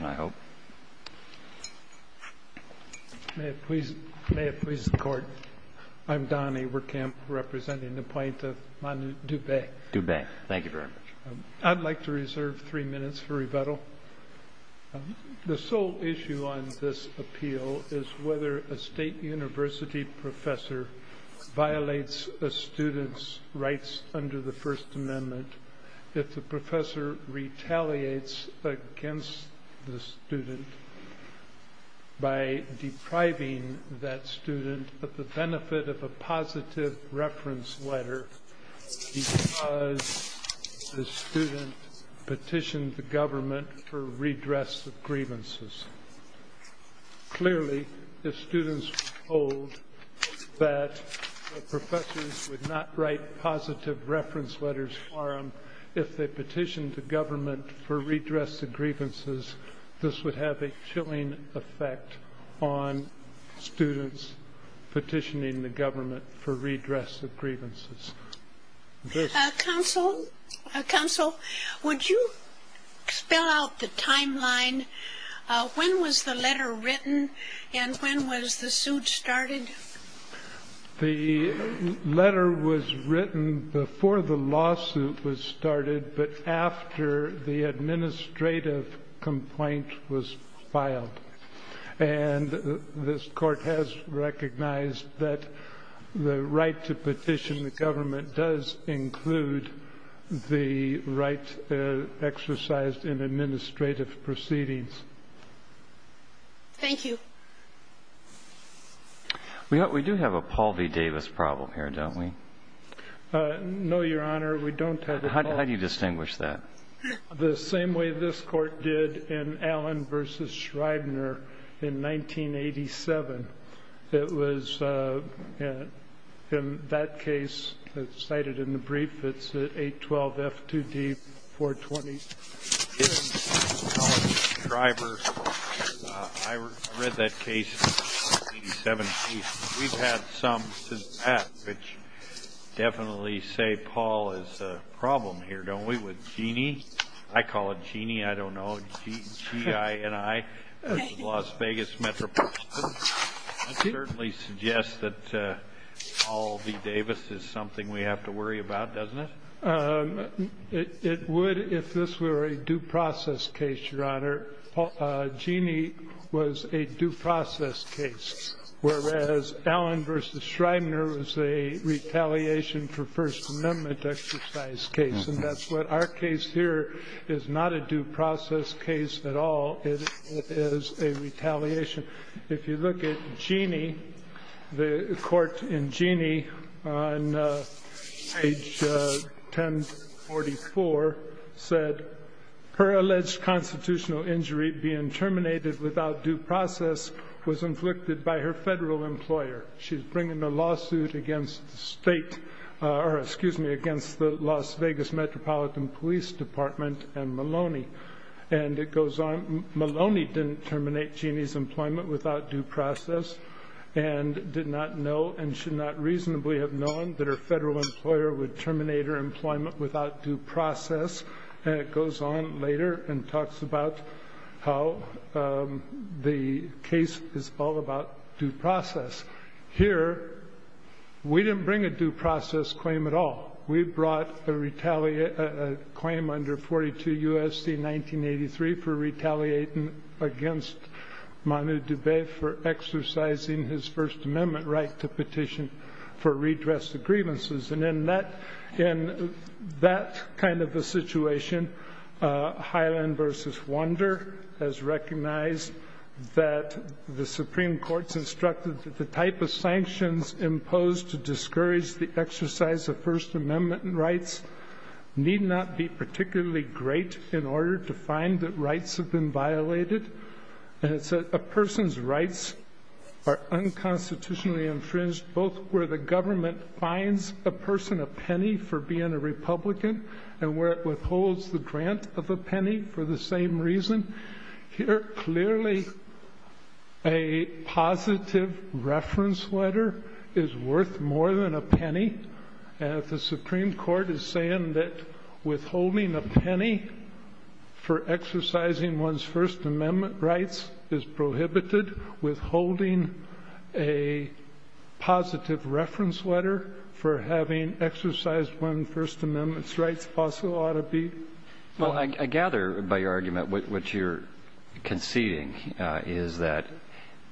I'd like to reserve three minutes for rebuttal. The sole issue on this appeal is whether a state university professor violates a student's rights under the First Amendment if the professor retaliates against the student by depriving that student of the benefit of a positive reference letter because the student petitioned the government for redress of grievances. Clearly, if students were told that professors would not write positive reference letters if they petitioned the government for redress of grievances, this would have a chilling effect on students petitioning the government for redress of grievances. Counsel, would you spell out the timeline? When was the letter written and when was the suit started? The letter was written before the lawsuit was started, but after the administrative complaint was filed. And this Court has recognized that the right to petition the government does include the right exercised in administrative proceedings. Thank you. We do have a Paul v. Davis problem here, don't we? No, Your Honor, we don't have a Paul v. Davis problem. How do you distinguish that? The same way this Court did in Allen v. Schreibner in 1987. It was in that case cited in the brief. It's 812 F2D 420. In Allen v. Schreibner, I read that case in 1987. We've had some since then, which definitely say Paul is a problem here, don't we, with Jeannie? I call it Jeannie. I don't know. G-I-N-I. Las Vegas, Metropolitan. That certainly suggests that Paul v. Davis is something we have to worry about, doesn't it? It would if this were a due process case, Your Honor. Jeannie was a due process case, whereas Allen v. Schreibner was a retaliation for First Amendment exercise case. And that's what our case here is not a due process case at all. It is a retaliation. If you look at Jeannie, the court in Jeannie on page 1044 said, her alleged constitutional injury being terminated without due process was inflicted by her federal employer. She's bringing a lawsuit against the state, or excuse me, against the Las Vegas Metropolitan Police Department and Maloney. And it goes on, Maloney didn't terminate Jeannie's employment without due process and did not know and should not reasonably have known that her federal employer would terminate her employment without due process. And it goes on later and talks about how the case is all about due process. Here, we didn't bring a due process claim at all. We brought a claim under 42 U.S.C. 1983 for retaliating against Mahmoud Dubey for exercising his First Amendment right to petition for redress of grievances. And in that kind of a situation, Highland v. Wander has recognized that the Supreme Court's instructed that the type of rights need not be particularly great in order to find that rights have been violated. And it's a person's rights are unconstitutionally infringed, both where the government fines a person a penny for being a Republican and where it withholds the grant of a penny for the same reason. Here, clearly, a positive reference letter is worth more than a penny. If the Supreme Court is saying that withholding a penny for exercising one's First Amendment rights is prohibited, withholding a positive reference letter for having exercised one's First Amendment rights also ought to be? Well, I gather by your argument what you're conceding is that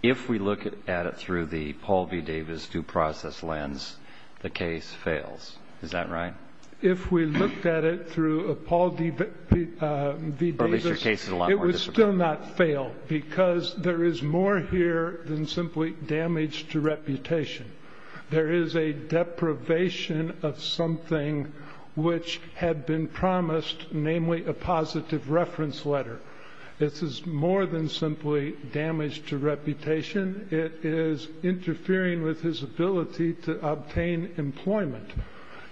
if we look at it through the Paul v. Davis due process lens, the case fails. Is that right? If we looked at it through Paul v. Davis, it would still not fail, because there is more here than simply damage to reputation. There is a deprivation of something which had been promised, namely a positive reference letter. This is more than simply damage to reputation, interfering with his ability to obtain employment.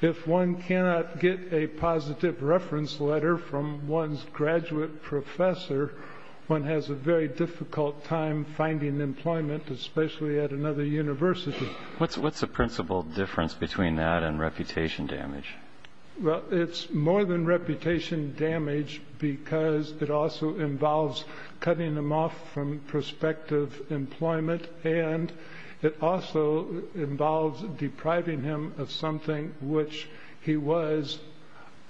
If one cannot get a positive reference letter from one's graduate professor, one has a very difficult time finding employment, especially at another university. What's the principal difference between that and reputation damage? Well, it's more than reputation damage, because it also involves cutting him off from prospective employment, and it also involves depriving him of something which he was,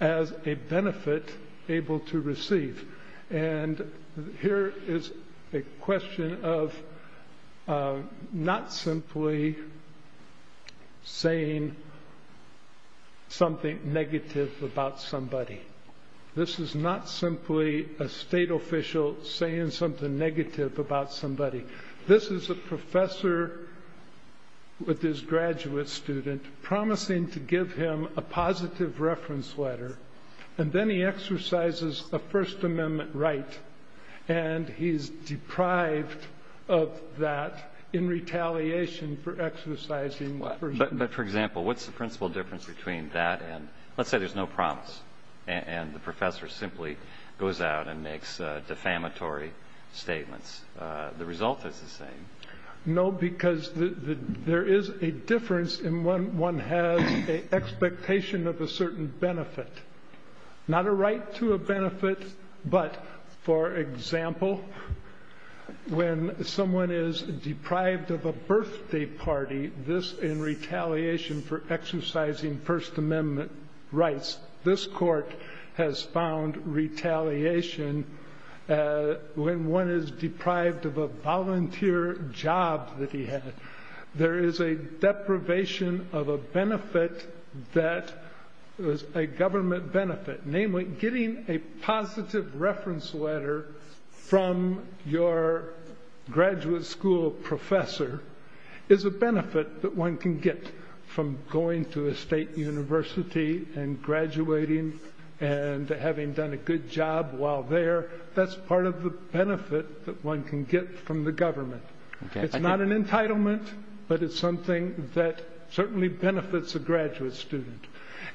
as a benefit, able to receive. And here is a question of not simply saying something negative about somebody. This is not simply a state official saying something negative about somebody. This is a professor with his graduate student promising to give him a positive reference letter, and then he exercises a First Amendment right, and he's deprived of that in retaliation for exercising the First Amendment. But, for example, what's the principal difference between that and, let's say there's no promise, and the professor simply goes out and makes defamatory statements? The result is the same. No, because there is a difference in when one has an expectation of a certain benefit. Not a right to a benefit, but, for example, when someone is deprived of a birthday party, this, in retaliation for exercising First Amendment rights, this court has found retaliation when one is deprived of a volunteer job that he had. There is a deprivation of a benefit that is a government benefit. Namely, getting a positive reference letter from your graduate school professor is a benefit that one can get from going to a state university and graduating and having done a good job while there. That's part of the benefit that one can get from the government. It's not an entitlement, but it's something that certainly benefits a graduate student.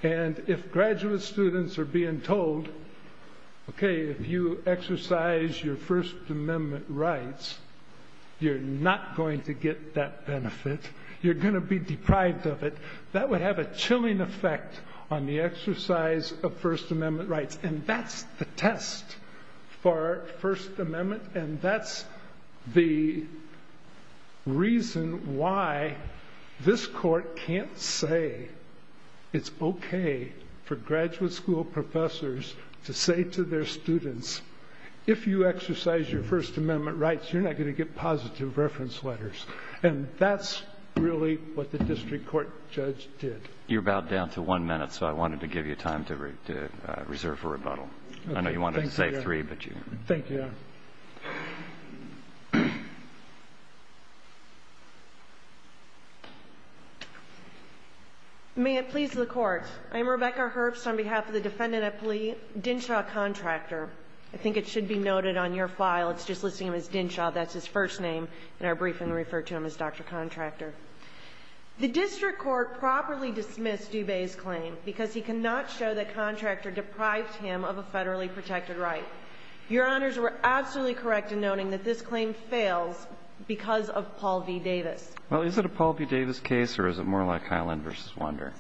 And if graduate students are being told, okay, if you exercise your First Amendment rights, you're not going to get that benefit. You're going to be deprived of it. That would have a chilling effect on the exercise of First Amendment rights. And that's the test for First Amendment, and that's the reason why this court can't say it's okay for graduate school professors to say to their students, if you exercise your First Amendment rights, you're not going to get positive reference letters. And that's really what the district court judge did. You're about down to one minute, so I wanted to give you time to reserve for rebuttal. I know you wanted to save three. Thank you. May it please the Court. I'm Rebecca Herbst on behalf of the defendant at plea, Dinshaw Contractor. I think it should be noted on your file, it's just listing him as Dinshaw, that's his first name, and our briefing referred to him as Dr. Contractor. The district court properly dismissed Dubay's claim because he cannot show that Contractor deprived him of correct in noting that this claim fails because of Paul v. Davis. Well, is it a Paul v. Davis case, or is it more like Hyland v. Wander?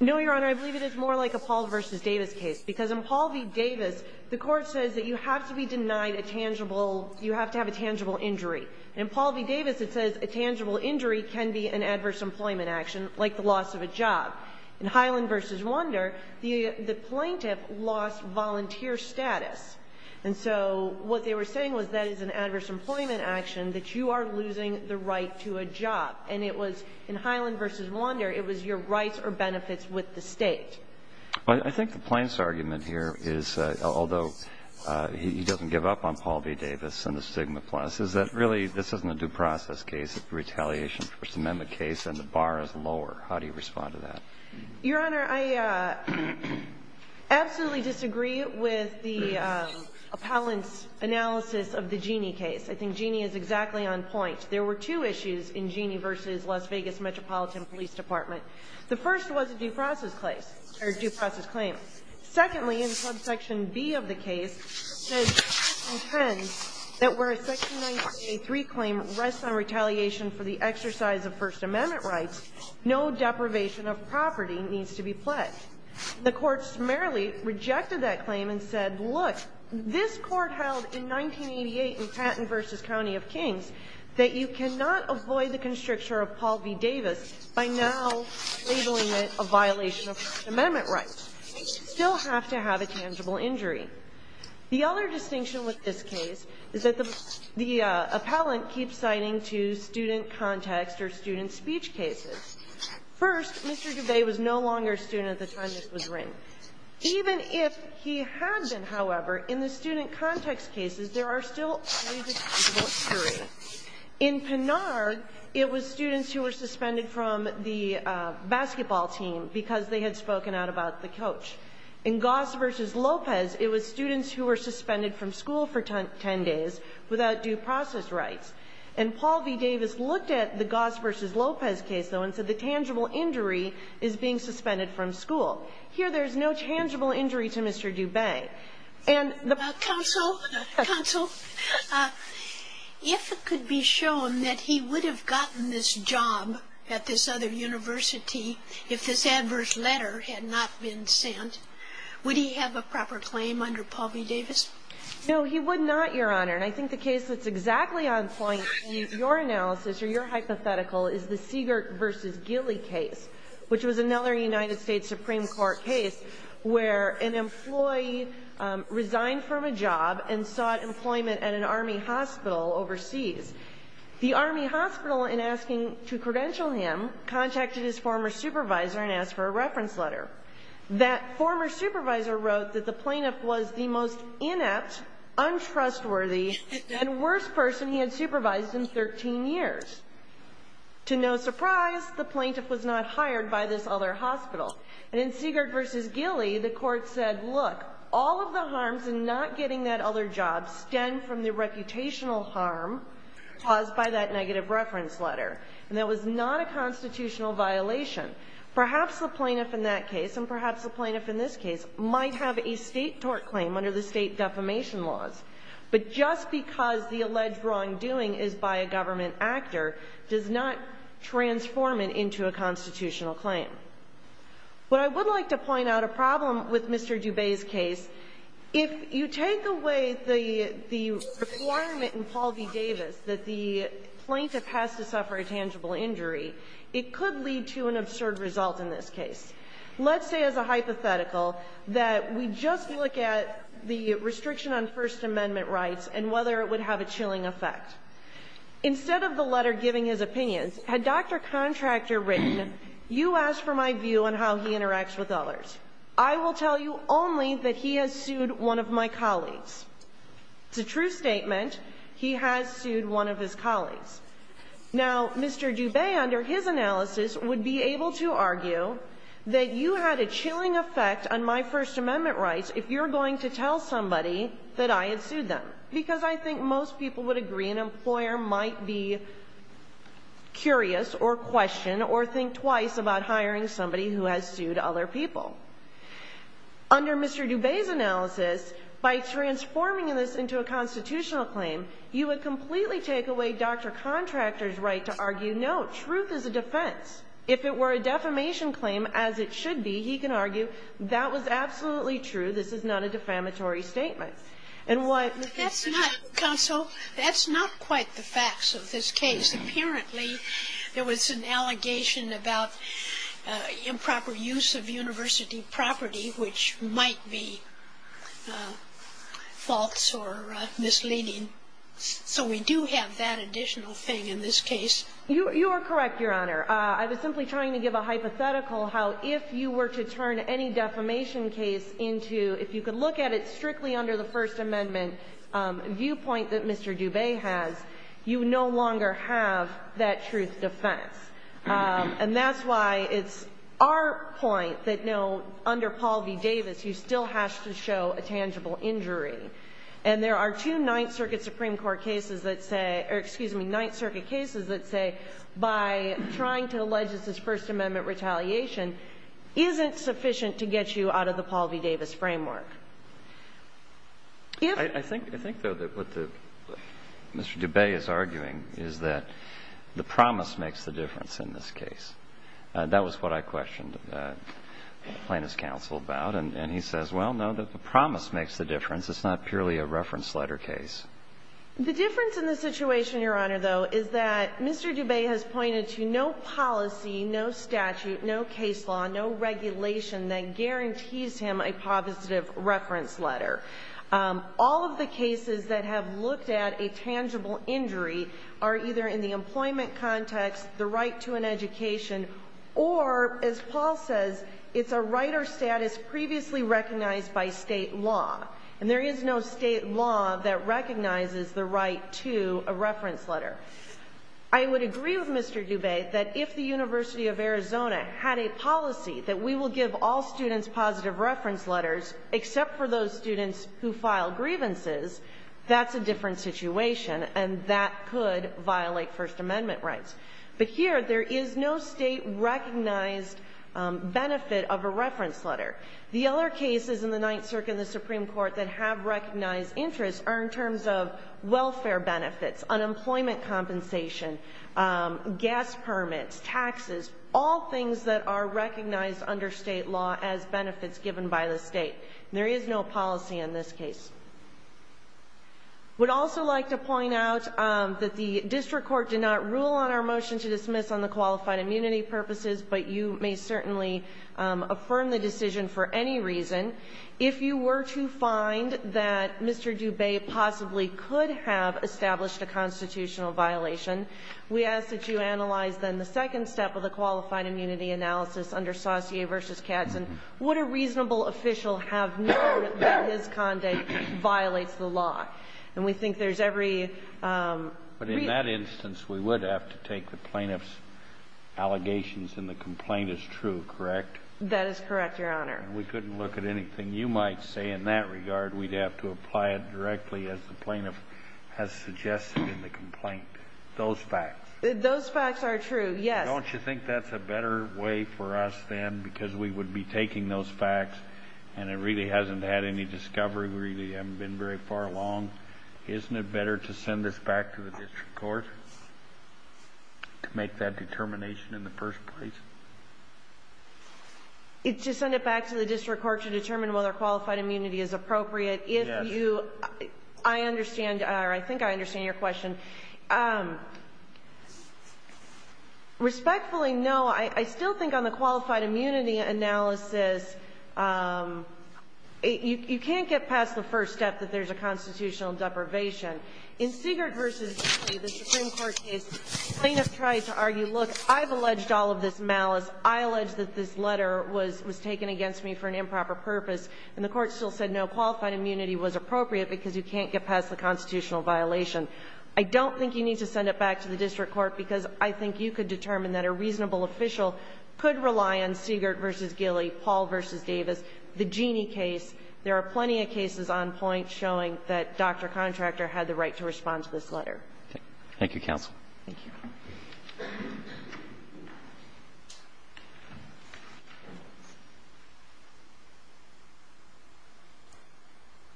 No, Your Honor, I believe it is more like a Paul v. Davis case, because in Paul v. Davis, the court says that you have to be denied a tangible, you have to have a tangible injury. In Paul v. Davis, it says a tangible injury can be an adverse employment action, like the loss of a job. In Hyland v. Wander, the plaintiff lost volunteer status. And so what they were saying was that is an adverse employment action, that you are losing the right to a job. And it was, in Hyland v. Wander, it was your rights or benefits with the State. I think the plaintiff's argument here is, although he doesn't give up on Paul v. Davis and the stigma plus, is that really this isn't a due process case, it's a retaliation First Amendment case, and the bar is lower. How do you respond to that? Your Honor, I absolutely disagree with the appellant's analysis of the Jeanne case. I think Jeanne is exactly on point. There were two issues in Jeanne v. Las Vegas Metropolitan Police Department. The first was a due process claim. Secondly, in subsection B of the case, the court says that the court intends that where a section 983 claim rests on retaliation for the exercise of First Amendment rights, no deprivation of property needs to be pledged. The court merrily rejected that claim and said, look, this court held in 1988 in Patton v. County of Kings that you cannot avoid the constrictor of Paul v. Davis by now labeling it a violation of First Amendment rights. You still have to have a tangible injury. The other distinction with this case is that the appellant keeps citing to student context or student speech cases. First, Mr. DuVey was no longer a student at the time this was written. Even if he had been, however, in the student context cases, there are still unreasonable injuries. In Pinard, it was students who were suspended from the basketball team because they had spoken out about the coach. In Goss v. Lopez, it was students who were suspended from school for ten days without due process rights. And Paul v. Davis looked at the Goss v. Lopez case, though, and said the tangible injury is being suspended from school. Here, there's no tangible injury to Mr. DuVey. And the ---- Sotomayor, counsel, counsel, if it could be shown that he would have gotten this job at this other university if this adverse letter had not been sent, would he have a proper claim under Paul v. Davis? No, he would not, Your Honor. And I think the case that's exactly on point in your analysis or your hypothetical is the Siegert v. Gilley case, which was another United States Supreme Court case where an employee resigned from a job and sought employment at an Army hospital overseas. The Army hospital, in asking to credential him, contacted his former supervisor and asked for a reference letter. That former supervisor wrote that the plaintiff was the most inept, untrustworthy, and worst person he had supervised in 13 years. To no surprise, the plaintiff was not hired by this other hospital. And in Siegert v. Gilley, the court said, look, all of the harms in not getting that other job stem from the reputational harm caused by that negative reference letter. And that was not a constitutional violation. Perhaps the plaintiff in that case and perhaps the plaintiff in this case might have a State tort claim under the State defamation laws. But just because the alleged wrongdoing is by a government actor does not transform it into a constitutional claim. What I would like to point out, a problem with Mr. Dubé's case, if you take away the requirement in Paul v. Davis that the plaintiff has to suffer a tangible injury, it could lead to an absurd result in this case. Let's say as a hypothetical that we just look at the restriction on First Amendment rights and whether it would have a chilling effect. Instead of the letter giving his opinions, had Dr. Contractor written, you ask for my view on how he interacts with others. I will tell you only that he has sued one of my colleagues. He has sued one of his colleagues. Now, Mr. Dubé, under his analysis, would be able to argue that you had a chilling effect on my First Amendment rights if you're going to tell somebody that I had sued them. Because I think most people would agree an employer might be curious or question or think twice about hiring somebody who has sued other people. Under Mr. Dubé's analysis, by transforming this into a constitutional claim, you would completely take away Dr. Contractor's right to argue, no, truth is a defense. If it were a defamation claim, as it should be, he can argue, that was absolutely true. This is not a defamatory statement. And what he said to counsel, that's not quite the facts of this case. Apparently, there was an allegation about improper use of university property, which might be false or misleading. So we do have that additional thing in this case. You are correct, Your Honor. I was simply trying to give a hypothetical how if you were to turn any defamation case into, if you could look at it strictly under the First Amendment viewpoint that Mr. Dubé has, you no longer have that truth defense. And that's why it's our point that, no, under Paul v. Davis, you still have to show a tangible injury. And there are two Ninth Circuit Supreme Court cases that say or, excuse me, Ninth Circuit cases that say by trying to allege this is First Amendment retaliation isn't sufficient to get you out of the Paul v. Davis framework. I think, though, that what Mr. Dubé is arguing is that the promise makes the difference in this case. That was what I questioned Plaintiff's counsel about. And he says, well, no, the promise makes the difference. It's not purely a reference letter case. The difference in the situation, Your Honor, though, is that Mr. Dubé has pointed to no policy, no statute, no case law, no regulation that guarantees him a positive reference letter. All of the cases that have looked at a tangible injury are either in the employment context, the right to an education, or, as Paul says, it's a right or status previously recognized by state law. And there is no state law that recognizes the right to a reference letter. I would agree with Mr. Dubé that if the University of Arizona had a policy that we will give all students positive reference letters except for those students who file grievances, that's a different situation, and that could violate First Amendment rights. But here, there is no state-recognized benefit of a reference letter. The other cases in the Ninth Circuit and the Supreme Court that have recognized interests are in terms of welfare benefits, unemployment compensation, gas permits, taxes, all things that are recognized under state law as benefits given by the state. There is no policy in this case. I would also like to point out that the district court did not rule on our motion to dismiss on the qualified immunity purposes, but you may certainly affirm the decision for any reason. If you were to find that Mr. Dubé possibly could have established a constitutional violation, we ask that you analyze then the second step of the qualified immunity analysis under Saucier v. Katzen. Would a reasonable official have known that his conduct violates the law? And we think there's every reason. But in that instance, we would have to take the plaintiff's allegations and the complaint as true, correct? That is correct, Your Honor. And we couldn't look at anything you might say in that regard. We'd have to apply it directly as the plaintiff has suggested in the complaint. Those facts. Those facts are true, yes. Don't you think that's a better way for us then because we would be taking those facts and it really hasn't had any discovery? We really haven't been very far along. Isn't it better to send this back to the district court to make that determination in the first place? To send it back to the district court to determine whether qualified immunity is appropriate? Yes. I understand, or I think I understand your question. Respectfully, no. I still think on the qualified immunity analysis, you can't get past the first step that there's a constitutional deprivation. In Siegert v. Daley, the Supreme Court case, the plaintiff tried to argue, look, I've alleged all of this malice. I allege that this letter was taken against me for an improper purpose. And the court still said no, qualified immunity was appropriate because you can't get past the constitutional violation. I don't think you need to send it back to the district court because I think you could determine that a reasonable official could rely on Siegert v. Daley, Paul v. Davis, the Genie case. There are plenty of cases on point showing that Dr. Contractor had the right to respond to this letter. Thank you, counsel. Thank you.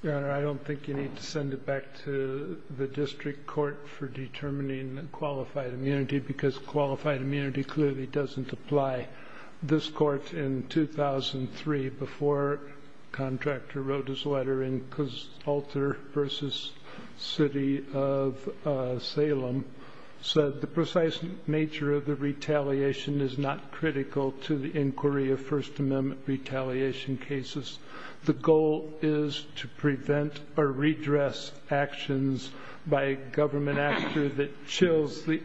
Your Honor, I don't think you need to send it back to the district court for determining qualified immunity because qualified immunity clearly doesn't apply. This court in 2003, before Contractor wrote his letter in Kosalter v. City of Salem, said the precise nature of the retaliation is not critical to the inquiry of First Amendment retaliation cases. The goal is to prevent or redress actions by a government actor that chills the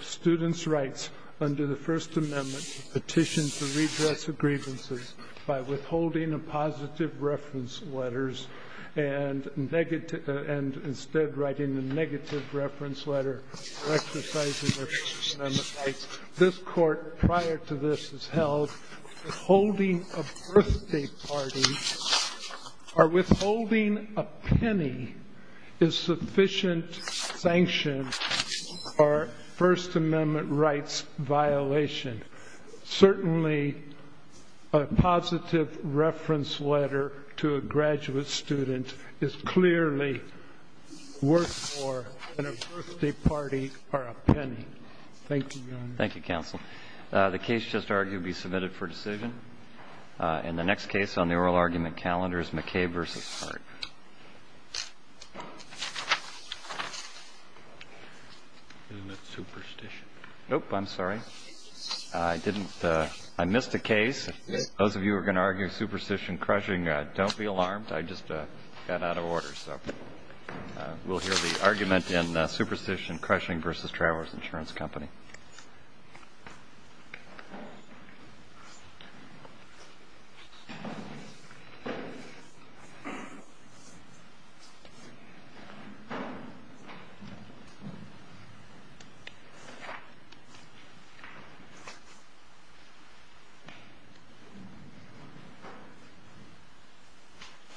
students' rights under the First Amendment petition to redress grievances by withholding a positive reference letter and negative and instead writing a negative reference letter or exercising their First Amendment rights. This court prior to this has held withholding a birthday party or withholding a penny is sufficient sanction for First Amendment rights violation. Certainly, a positive reference letter to a graduate student is clearly worth more than a negative reference letter. Thank you. Thank you, Your Honor. Thank you, counsel. The case just argued to be submitted for decision. And the next case on the oral argument calendar is McKay v. Hart. Isn't it superstition? Nope. I'm sorry. I didn't ---- I missed a case. Those of you who are going to argue superstition, crushing, don't be alarmed. I just got out of order. So we'll hear the argument in superstition, crushing v. Travelers Insurance Company.